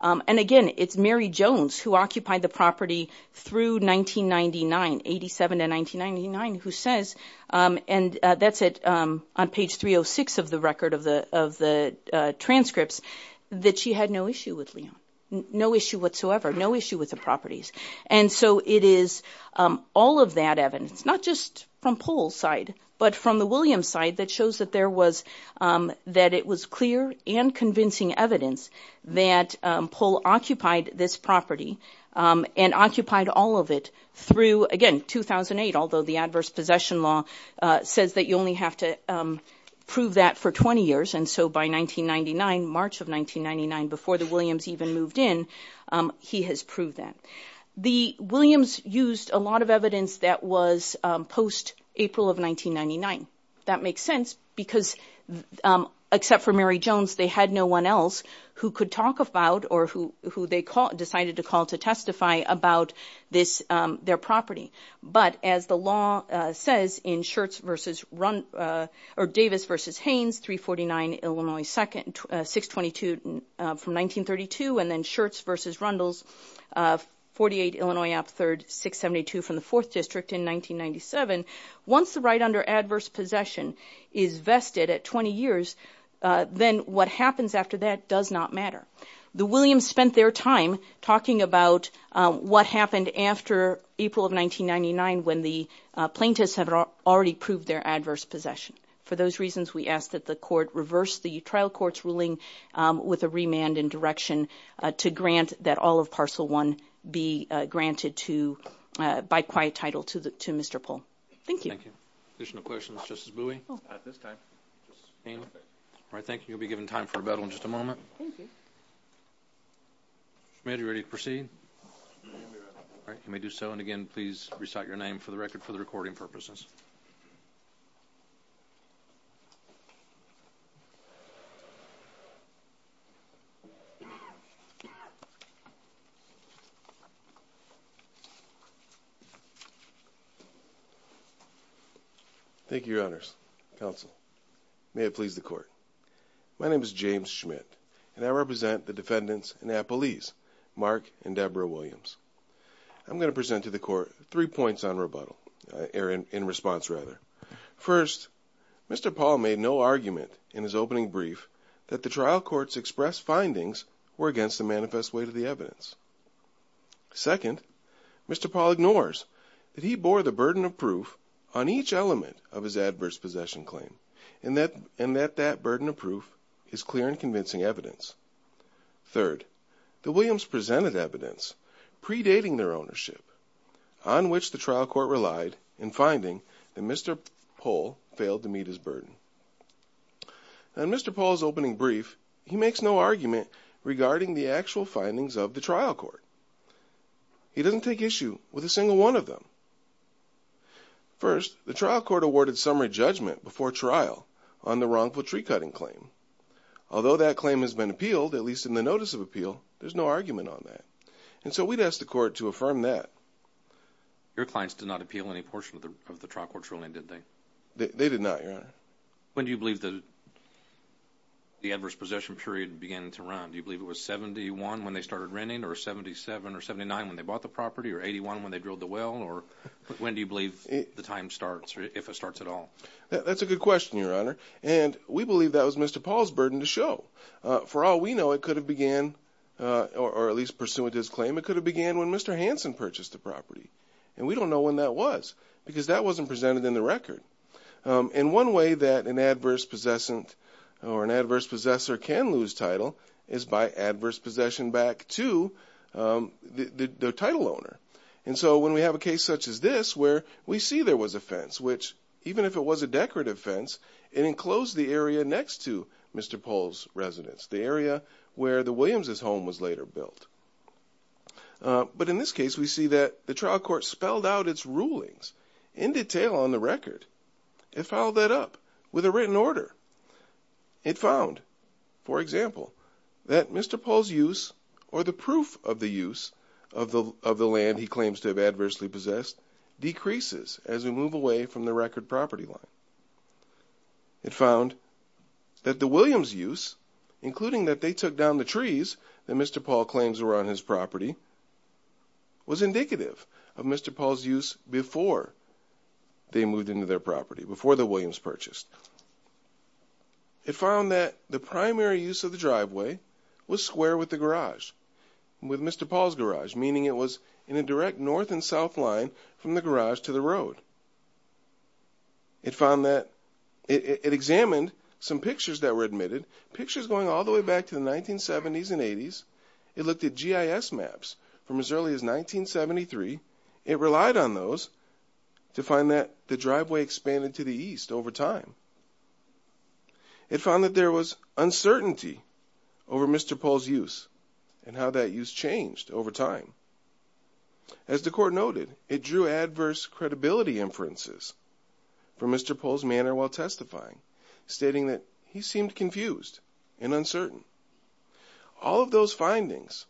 And again, it's Mary Jones, who occupied the property through 1999, 87 to 1999, who says, and that's it, on page 306 of the record of the transcripts, that she had no issue with Leon, no issue whatsoever, no issue with the properties. And so it is all of that evidence, not just from Pohl's side, but from the Williams side, that shows that there was, that it was clear and convincing evidence that Pohl occupied this property and occupied all of it through, again, 2008, although the adverse possession law says that you only have to prove that for 20 years. And so by 1999, March of 1999, before the Williams even moved in, he has proved that. The Williams used a lot of evidence that was post-April of 1999. That makes sense because, except for Mary Jones, they had no one else who could talk about or who they decided to call to testify about this, their property. But as the law says in Shirts v. Rundle, or Davis v. Haynes, 349 Illinois 2nd, 622 from 1932, and then Shirts v. Rundle's, 48 Illinois Up 3rd, 672 from the 4th District in 1997, once the right under adverse possession is vested at 20 years, then what happens after that does not matter. The Williams spent their time talking about what happened after April of 1999 when the plaintiffs had already proved their adverse possession. For those reasons, we ask that the court reverse the trial court's ruling with a remand in direction to grant that all of Parcel 1 be granted by quiet title to Mr. Pohl. Thank you. Thank you. Additional questions? Justice Bowie? At this time. All right. Thank you. You'll be given time for rebuttal in just a moment. Thank you. Mr. Schmid, are you ready to proceed? All right. You may do so. And again, please recite your name for the record for the recording purposes. Thank you, Your Honors. Counsel, may it please the court. My name is James Schmid, and I represent the defendants in Appalese, Mark and Deborah Williams. I'm going to present to the court three points in response. First, Mr. Pohl made no argument in his opening brief that the trial court's expressed findings were against the manifest weight of the evidence. Second, Mr. Pohl ignores that he bore the burden of proof on each element of his adverse possession claim and that that burden of proof is clear and convincing evidence. Third, the Williams presented evidence predating their ownership on which the trial court relied in finding that Mr. Pohl failed to meet his burden. In Mr. Pohl's opening brief, he makes no argument regarding the actual findings of the trial court. He doesn't take issue with a single one of them. First, the trial court awarded summary judgment before trial on the wrongful tree-cutting claim. Although that claim has been appealed, at least in the notice of appeal, there's no argument on that. And so we'd ask the court to affirm that. Your clients did not appeal any portion of the trial court's ruling, did they? They did not, Your Honor. When do you believe the adverse possession period began to run? Do you believe it was 71 when they started renting, or 77 or 79 when they bought the property, or 81 when they drilled the well? Or when do you believe the time starts, or if it starts at all? That's a good question, Your Honor. And we believe that was Mr. Pohl's burden to show. For all we know, it could have began, or at least pursuant to his claim, it could have began when Mr. Hansen purchased the property. And we don't know when that was, because that wasn't presented in the record. And one way that an adverse possessor can lose title is by adverse possession back to the title owner. And so when we have a case such as this, where we see there was a fence, which even if it was a decorative fence, it enclosed the area next to Mr. Pohl's residence, the area where the Williams' home was later built. But in this case, we see that the trial court spelled out its rulings in detail on the record. It filed that up with a written order. It found, for example, that Mr. Pohl's use, or the proof of the use, of the land he claims to have adversely possessed decreases as we move away from the record property line. It found that the Williams' use, including that they took down the trees that Mr. Pohl claims were on his property, was indicative of Mr. Pohl's use before they moved into their property, before the Williams' purchased. It found that the primary use of the driveway was square with the garage, with Mr. Pohl's garage, meaning it was in a direct north and south line from the garage to the road. It examined some pictures that were admitted, pictures going all the way back to the 1970s and 80s. It looked at GIS maps from as early as 1973. It relied on those to find that the driveway expanded to the east over time. It found that there was uncertainty over Mr. Pohl's use and how that use changed over time. As the court noted, it drew adverse credibility inferences from Mr. Pohl's manner while testifying, stating that he seemed confused and uncertain. All of those findings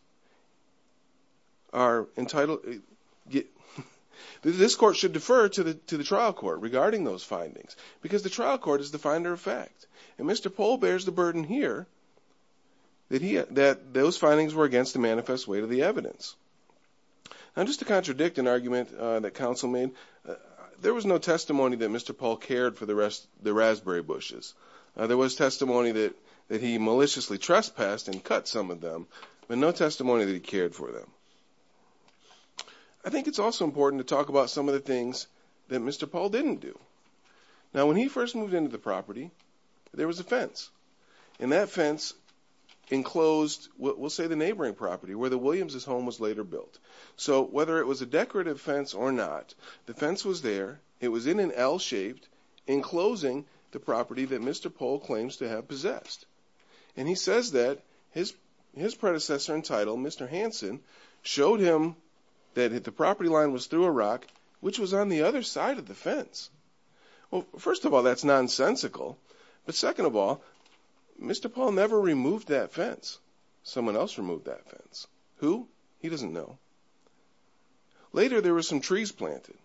are entitled... This court should defer to the trial court regarding those findings because the trial court is the finder of fact. And Mr. Pohl bears the burden here that those findings were against the manifest weight of the evidence. Now, just to contradict an argument that counsel made, there was no testimony that Mr. Pohl cared for the raspberry bushes. There was testimony that he maliciously trespassed and cut some of them, but no testimony that he cared for them. I think it's also important to talk about some of the things that Mr. Pohl didn't do. Now, when he first moved into the property, there was a fence, and that fence enclosed what we'll say the neighboring property where the Williams' home was later built. So whether it was a decorative fence or not, the fence was there. It was in an L-shaped, enclosing the property that Mr. Pohl claims to have possessed. And he says that his predecessor in title, Mr. Hansen, showed him that the property line was through a rock, which was on the other side of the fence. Well, first of all, that's nonsensical. But second of all, Mr. Pohl never removed that fence. Someone else removed that fence. Who? He doesn't know. Later, there were some trees planted,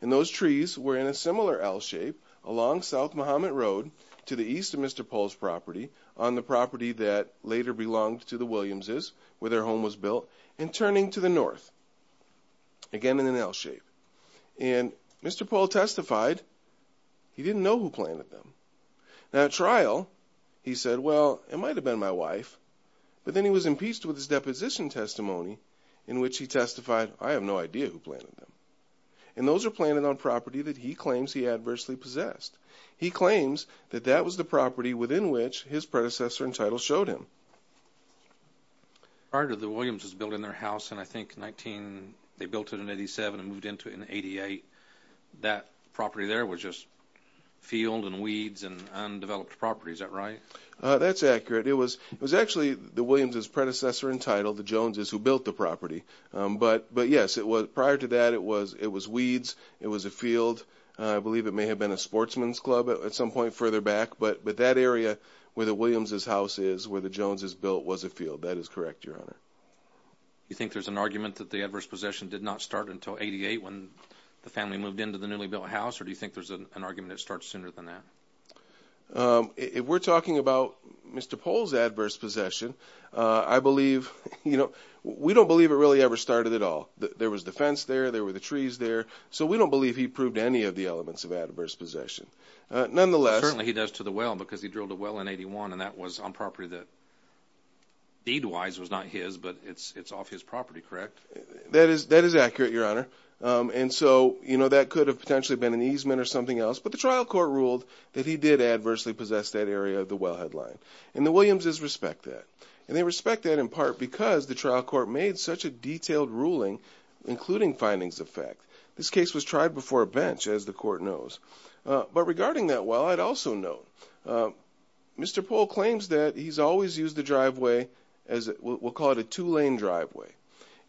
and those trees were in a similar L-shape along South Muhammad Road to the east of Mr. Pohl's property, on the property that later belonged to the Williams' where their home was built, and turning to the north, again in an L-shape. And Mr. Pohl testified he didn't know who planted them. Now, at trial, he said, well, it might have been my wife. But then he was impeached with his deposition testimony in which he testified, I have no idea who planted them. And those are planted on property that he claims he adversely possessed. He claims that that was the property within which his predecessor in title showed him. Part of the Williams' was built in their house, and I think they built it in 87 and moved into it in 88. That property there was just field and weeds and undeveloped property. Is that right? That's accurate. It was actually the Williams' predecessor in title, the Joneses, who built the property. But, yes, prior to that, it was weeds. It was a field. I believe it may have been a sportsman's club at some point further back. But that area where the Williams' house is, where the Joneses built, was a field. That is correct, Your Honor. You think there's an argument that the adverse possession did not start until 88 when the family moved into the newly built house, or do you think there's an argument it starts sooner than that? If we're talking about Mr. Pohl's adverse possession, I believe, you know, we don't believe it really ever started at all. There was the fence there. There were the trees there. So we don't believe he proved any of the elements of adverse possession. Nonetheless— Certainly he does to the well because he drilled a well in 81, and that was on property that deed-wise was not his, but it's off his property, correct? That is accurate, Your Honor. And so, you know, that could have potentially been an easement or something else. But the trial court ruled that he did adversely possess that area of the wellhead line, and the Williams' respect that. And they respect that in part because the trial court made such a detailed ruling, including findings of fact. This case was tried before a bench, as the court knows. But regarding that well, I'd also note Mr. Pohl claims that he's always used the driveway, we'll call it a two-lane driveway.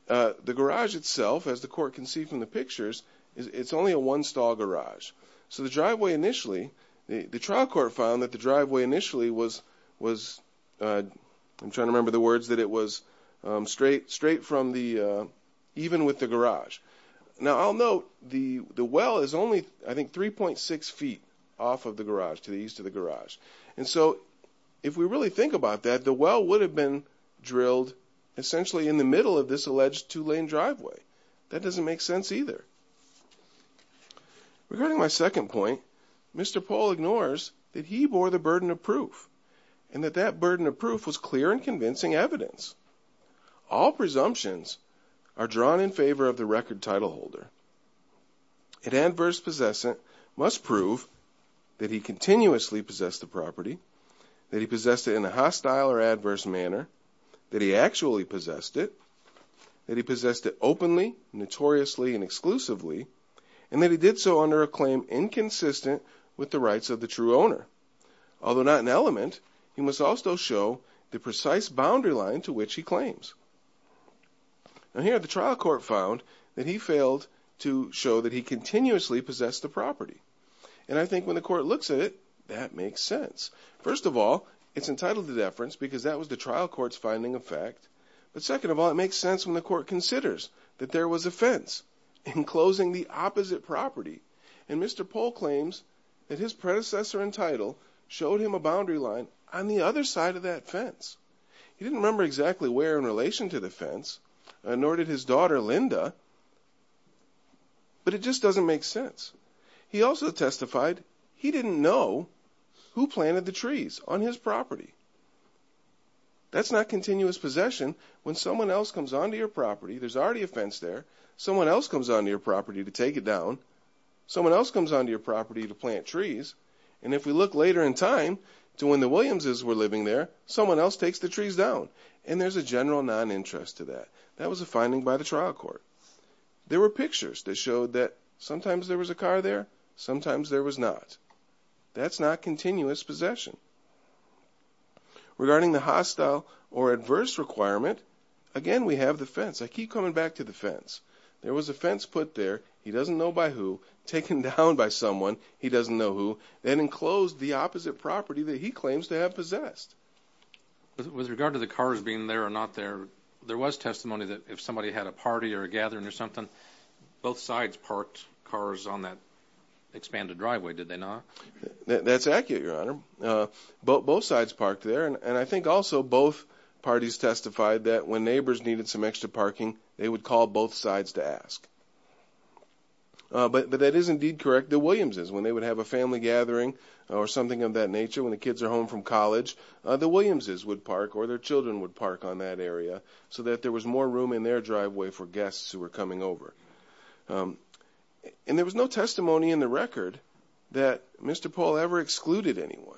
The garage itself, as the court can see from the pictures, it's only a one-stall garage. So the driveway initially, the trial court found that the driveway initially was, I'm trying to remember the words, that it was straight from the, even with the garage. Now I'll note the well is only, I think, 3.6 feet off of the garage, to the east of the garage. And so if we really think about that, the well would have been drilled essentially in the middle of this alleged two-lane driveway. That doesn't make sense either. Regarding my second point, Mr. Pohl ignores that he bore the burden of proof, and that that burden of proof was clear and convincing evidence. All presumptions are drawn in favor of the record titleholder. An adverse possessor must prove that he continuously possessed the property, that he possessed it in a hostile or adverse manner, that he actually possessed it, that he possessed it openly, notoriously, and exclusively, and that he did so under a claim inconsistent with the rights of the true owner. Although not an element, he must also show the precise boundary line to which he claims. Now here the trial court found that he failed to show that he continuously possessed the property. And I think when the court looks at it, that makes sense. First of all, it's entitled to deference because that was the trial court's finding of fact. But second of all, it makes sense when the court considers that there was a fence enclosing the opposite property, and Mr. Pohl claims that his predecessor in title showed him a boundary line on the other side of that fence. He didn't remember exactly where in relation to the fence, nor did his daughter Linda, but it just doesn't make sense. He also testified he didn't know who planted the trees on his property. That's not continuous possession. When someone else comes onto your property, there's already a fence there, someone else comes onto your property to take it down, someone else comes onto your property to plant trees, and if we look later in time to when the Williamses were living there, someone else takes the trees down. And there's a general non-interest to that. That was a finding by the trial court. There were pictures that showed that sometimes there was a car there, sometimes there was not. That's not continuous possession. Regarding the hostile or adverse requirement, again, we have the fence. I keep coming back to the fence. There was a fence put there. He doesn't know by who. Taken down by someone. He doesn't know who. Then enclosed the opposite property that he claims to have possessed. With regard to the cars being there or not there, there was testimony that if somebody had a party or a gathering or something, both sides parked cars on that expanded driveway, did they not? That's accurate, Your Honor. Both sides parked there, and I think also both parties testified that when neighbors needed some extra parking, they would call both sides to ask. But that is indeed correct. The Williamses, when they would have a family gathering or something of that nature, when the kids are home from college, the Williamses would park or their children would park on that area so that there was more room in their driveway for guests who were coming over. And there was no testimony in the record that Mr. Paul ever excluded anyone.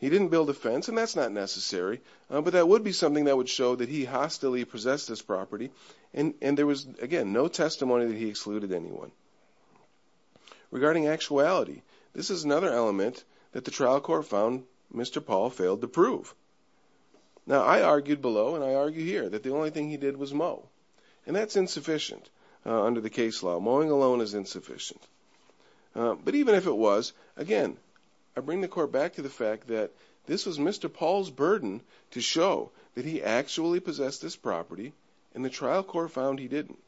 He didn't build a fence, and that's not necessary, but that would be something that would show that he hostily possessed this property, and there was, again, no testimony that he excluded anyone. Regarding actuality, this is another element that the trial court found Mr. Paul failed to prove. Now, I argued below and I argue here that the only thing he did was mow, and that's insufficient under the case law. Mowing alone is insufficient. But even if it was, again, I bring the court back to the fact that this was Mr. Paul's burden to show that he actually possessed this property, and the trial court found he didn't.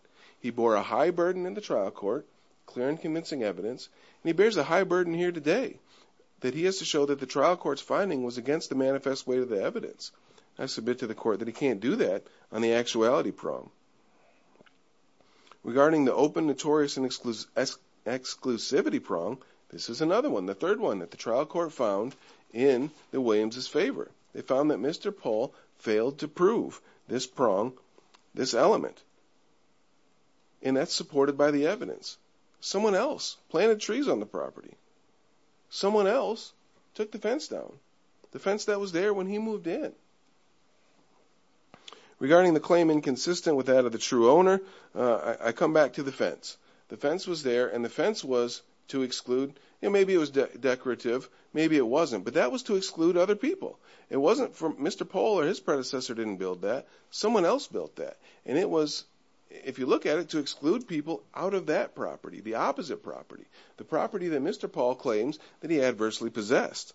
He bore a high burden in the trial court, clear and convincing evidence, and he bears a high burden here today, that he has to show that the trial court's finding was against the manifest weight of the evidence. I submit to the court that he can't do that on the actuality prong. Regarding the open, notorious, and exclusivity prong, this is another one, the third one that the trial court found in the Williams' favor. They found that Mr. Paul failed to prove this prong, this element, and that's supported by the evidence. Someone else planted trees on the property. Someone else took the fence down, the fence that was there when he moved in. Regarding the claim inconsistent with that of the true owner, I come back to the fence. The fence was there, and the fence was to exclude. Maybe it was decorative, maybe it wasn't, but that was to exclude other people. It wasn't for Mr. Paul or his predecessor didn't build that. Someone else built that, and it was, if you look at it, to exclude people out of that property, the opposite property, the property that Mr. Paul claims that he adversely possessed.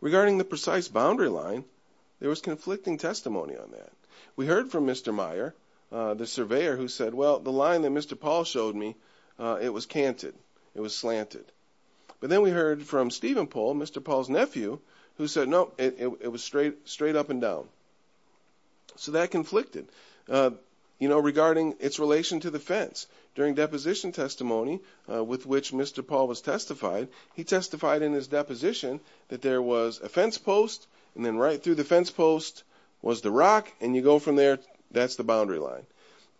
Regarding the precise boundary line, there was conflicting testimony on that. We heard from Mr. Meyer, the surveyor, who said, well, the line that Mr. Paul showed me, it was canted, it was slanted. But then we heard from Stephen Pohl, Mr. Paul's nephew, who said, no, it was straight up and down. So that conflicted. Regarding its relation to the fence, during deposition testimony, with which Mr. Paul was testified, he testified in his deposition that there was a fence post, and then right through the fence post was the rock, and you go from there, that's the boundary line.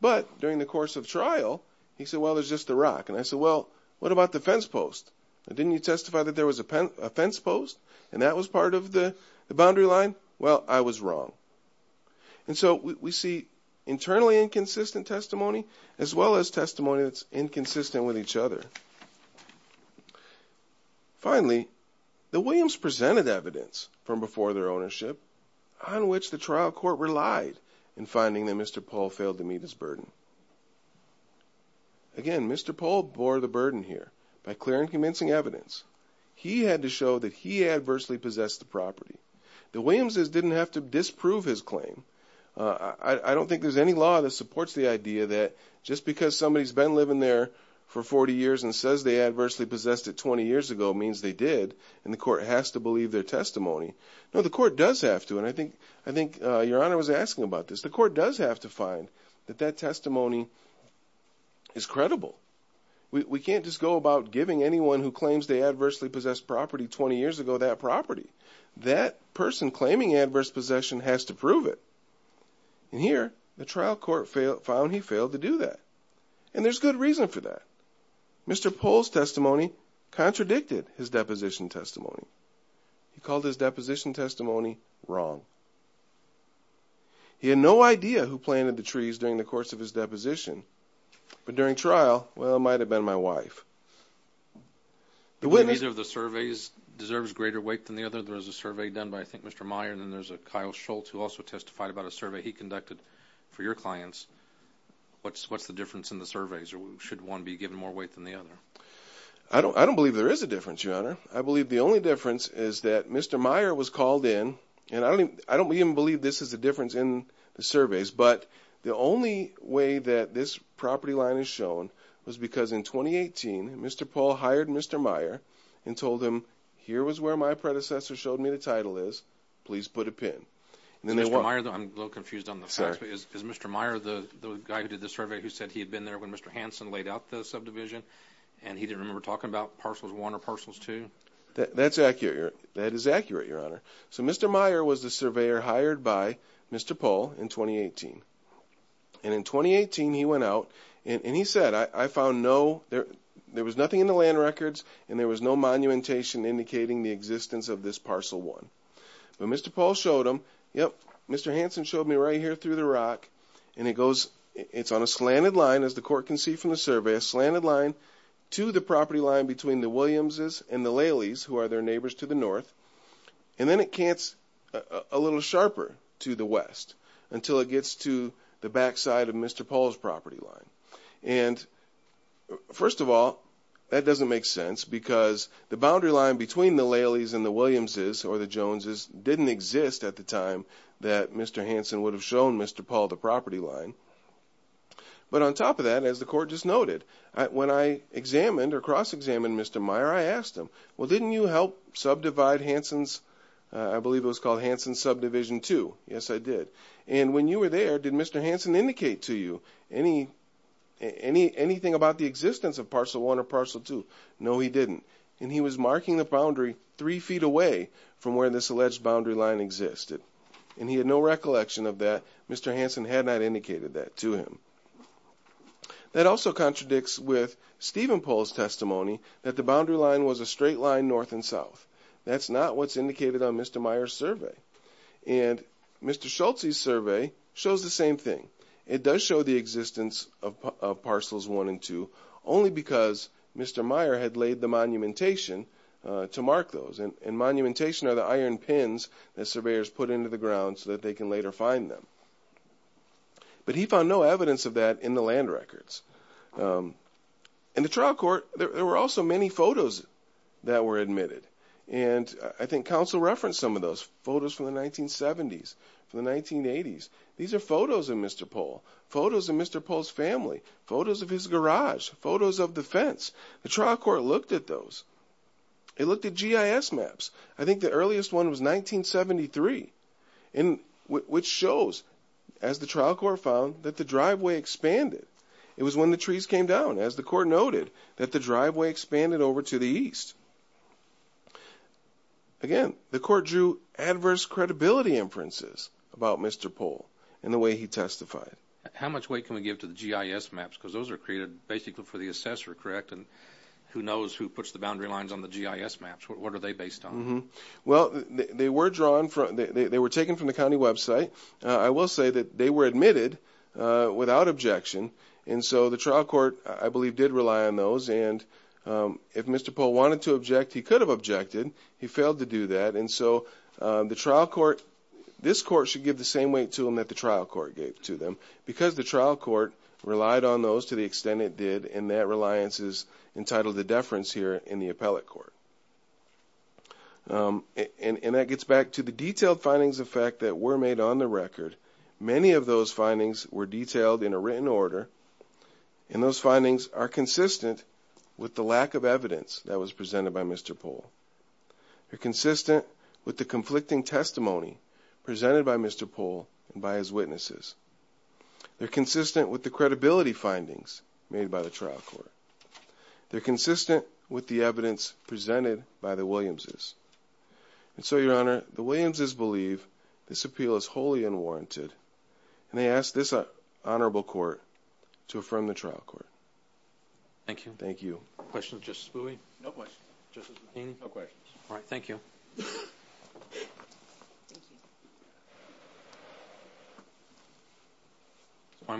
But during the course of trial, he said, well, there's just the rock. And I said, well, what about the fence post? Didn't you testify that there was a fence post, and that was part of the boundary line? Well, I was wrong. And so we see internally inconsistent testimony, as well as testimony that's inconsistent with each other. Finally, the Williams presented evidence from before their ownership, on which the trial court relied in finding that Mr. Pohl failed to meet his burden. Again, Mr. Pohl bore the burden here, by clear and convincing evidence. He had to show that he adversely possessed the property. The Williamses didn't have to disprove his claim. I don't think there's any law that supports the idea that just because somebody's been living there for 40 years and says they adversely possessed it 20 years ago means they did, and the court has to believe their testimony. No, the court does have to, and I think Your Honor was asking about this. The court does have to find that that testimony is credible. We can't just go about giving anyone who claims they adversely possessed property 20 years ago that property. That person claiming adverse possession has to prove it. And here, the trial court found he failed to do that, and there's good reason for that. Mr. Pohl's testimony contradicted his deposition testimony. He called his deposition testimony wrong. He had no idea who planted the trees during the course of his deposition, but during trial, well, it might have been my wife. The Williamses of the surveys deserves greater weight than the other. There was a survey done by, I think, Mr. Meyer, and then there's a Kyle Schultz who also testified about a survey he conducted for your clients. What's the difference in the surveys, or should one be given more weight than the other? I don't believe there is a difference, Your Honor. I believe the only difference is that Mr. Meyer was called in, but the only way that this property line is shown was because in 2018, Mr. Pohl hired Mr. Meyer and told him, here was where my predecessor showed me the title is. Please put a pin. I'm a little confused on the facts. Is Mr. Meyer the guy who did the survey who said he had been there when Mr. Hansen laid out the subdivision and he didn't remember talking about parcels one or parcels two? That is accurate, Your Honor. So Mr. Meyer was the surveyor hired by Mr. Pohl in 2018, and in 2018, he went out and he said, I found no, there was nothing in the land records, and there was no monumentation indicating the existence of this parcel one. But Mr. Pohl showed him, yep, Mr. Hansen showed me right here through the rock, and it goes, it's on a slanted line, as the court can see from the survey, a slanted line to the property line between the Williamses and the Leleys, who are their neighbors to the north, and then it cants a little sharper to the west until it gets to the backside of Mr. Pohl's property line. And first of all, that doesn't make sense because the boundary line between the Leleys and the Williamses or the Joneses didn't exist at the time that Mr. Hansen would have shown Mr. Pohl the property line. But on top of that, as the court just noted, when I examined or cross-examined Mr. Meyer, I asked him, well, didn't you help subdivide Hansen's, I believe it was called Hansen's subdivision two? Yes, I did. And when you were there, did Mr. Hansen indicate to you anything about the existence of parcel one or parcel two? No, he didn't. And he was marking the boundary three feet away from where this alleged boundary line existed. And he had no recollection of that. Mr. Hansen had not indicated that to him. That also contradicts with Stephen Pohl's testimony that the boundary line was a straight line north and south. That's not what's indicated on Mr. Meyer's survey. And Mr. Schultz's survey shows the same thing. It does show the existence of parcels one and two only because Mr. Meyer had laid the monumentation to mark those. And monumentation are the iron pins that surveyors put into the ground so that they can later find them. But he found no evidence of that in the land records. In the trial court, there were also many photos that were admitted. And I think counsel referenced some of those photos from the 1970s, from the 1980s. These are photos of Mr. Pohl, photos of Mr. Pohl's family, photos of his garage, photos of the fence. The trial court looked at those. It looked at GIS maps. I think the earliest one was 1973, which shows, as the trial court found, that the driveway expanded. It was when the trees came down, as the court noted, that the driveway expanded over to the east. Again, the court drew adverse credibility inferences about Mr. Pohl and the way he testified. How much weight can we give to the GIS maps? Because those are created basically for the assessor, correct? And who knows who puts the boundary lines on the GIS maps? What are they based on? Well, they were taken from the county website. I will say that they were admitted without objection. And so the trial court, I believe, did rely on those. And if Mr. Pohl wanted to object, he could have objected. He failed to do that. And so the trial court, this court should give the same weight to them that the trial court gave to them, because the trial court relied on those to the extent it did, and that reliance is entitled to deference here in the appellate court. And that gets back to the detailed findings of fact that were made on the record. Many of those findings were detailed in a written order, and those findings are consistent with the lack of evidence that was presented by Mr. Pohl. They're consistent with the conflicting testimony presented by Mr. Pohl and by his witnesses. They're consistent with the credibility findings made by the trial court. They're consistent with the evidence presented by the Williamses. And so, Your Honor, the Williamses believe this appeal is wholly unwarranted, and they ask this honorable court to affirm the trial court. Thank you. Thank you. Questions for Justice Booey? No questions. Justice McHaney? No questions. All right. Thank you.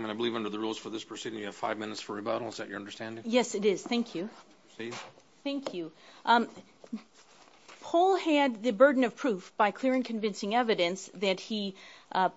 I believe under the rules for this proceeding you have five minutes for rebuttal. Is that your understanding? Yes, it is. Thank you. Thank you. Pohl had the burden of proof by clear and convincing evidence that he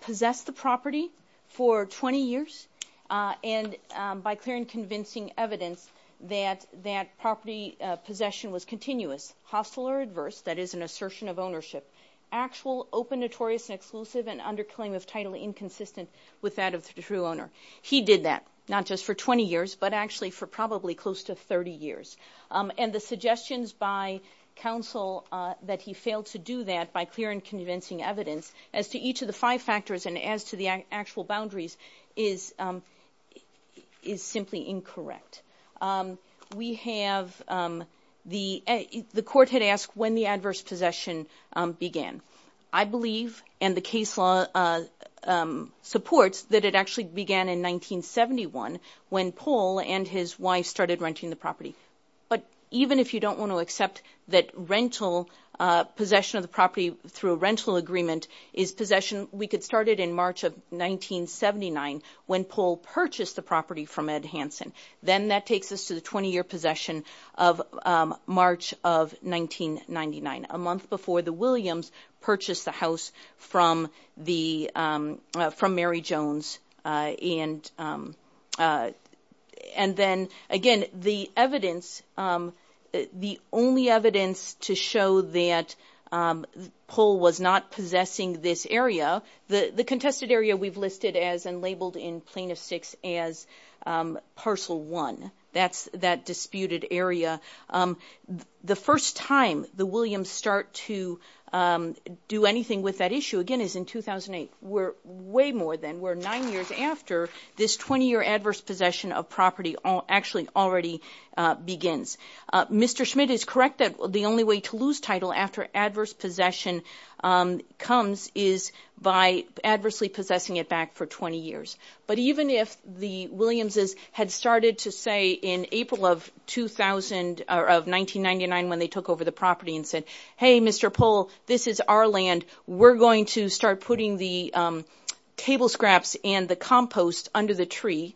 possessed the property for 20 years and by clear and convincing evidence that that property possession was continuous, hostile or adverse, that is an assertion of ownership, actual, open, notorious, and exclusive, and under claim of title inconsistent with that of the true owner. He did that, not just for 20 years, but actually for probably close to 30 years. And the suggestions by counsel that he failed to do that by clear and convincing evidence as to each of the five factors and as to the actual boundaries is simply incorrect. We have the court had asked when the adverse possession began. I believe and the case law supports that it actually began in 1971 when Pohl and his wife started renting the property. But even if you don't want to accept that rental, possession of the property through a rental agreement is possession, we could start it in March of 1979 when Pohl purchased the property from Ed Hansen. Then that takes us to the 20-year possession of March of 1999, a month before the Williams purchased the house from Mary Jones. And then, again, the evidence, the only evidence to show that Pohl was not possessing this area, the contested area we've listed as and labeled in plaintiffs' sticks as parcel one. That's that disputed area. The first time the Williams start to do anything with that issue, again, is in 2008. We're way more than. We're nine years after this 20-year adverse possession of property actually already begins. Mr. Schmidt is correct that the only way to lose title after adverse possession comes is by adversely possessing it back for 20 years. But even if the Williamses had started to say in April of 1999 when they took over the property and said, hey, Mr. Pohl, this is our land, we're going to start putting the table scraps and the compost under the tree,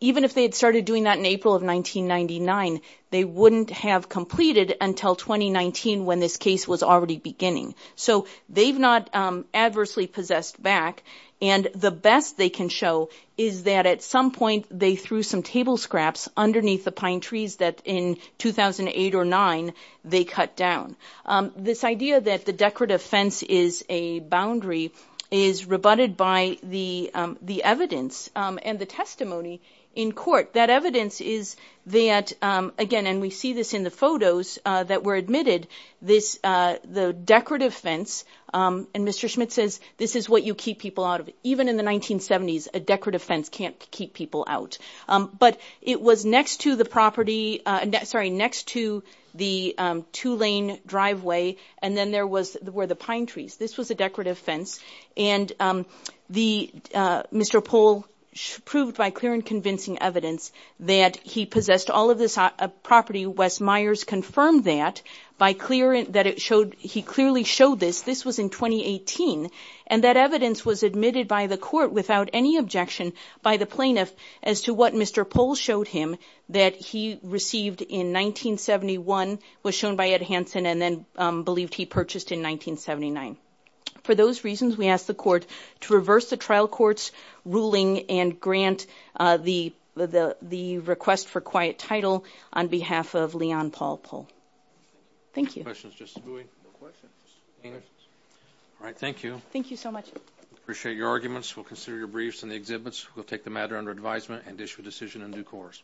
even if they had started doing that in April of 1999, they wouldn't have completed until 2019 when this case was already beginning. So they've not adversely possessed back. And the best they can show is that at some point they threw some table scraps underneath the pine trees that in 2008 or 2009 they cut down. This idea that the decorative fence is a boundary is rebutted by the evidence and the testimony in court. That evidence is that, again, and we see this in the photos that were admitted, the decorative fence, and Mr. Schmidt says this is what you keep people out of. Even in the 1970s, a decorative fence can't keep people out. But it was next to the property, sorry, next to the two-lane driveway, and then there were the pine trees. This was a decorative fence. And Mr. Pohl proved by clear and convincing evidence that he possessed all of this property. Wes Myers confirmed that by clear that it showed he clearly showed this. This was in 2018. And that evidence was admitted by the court without any objection by the plaintiff as to what Mr. Pohl showed him, that he received in 1971, was shown by Ed Hansen, and then believed he purchased in 1979. For those reasons, we ask the court to reverse the trial court's ruling and grant the request for quiet title on behalf of Leon Paul Pohl. Thank you. Questions, Justice Bui? No questions. All right, thank you. Thank you so much. Appreciate your arguments. We'll consider your briefs and the exhibits. We'll take the matter under advisement and issue a decision in due course.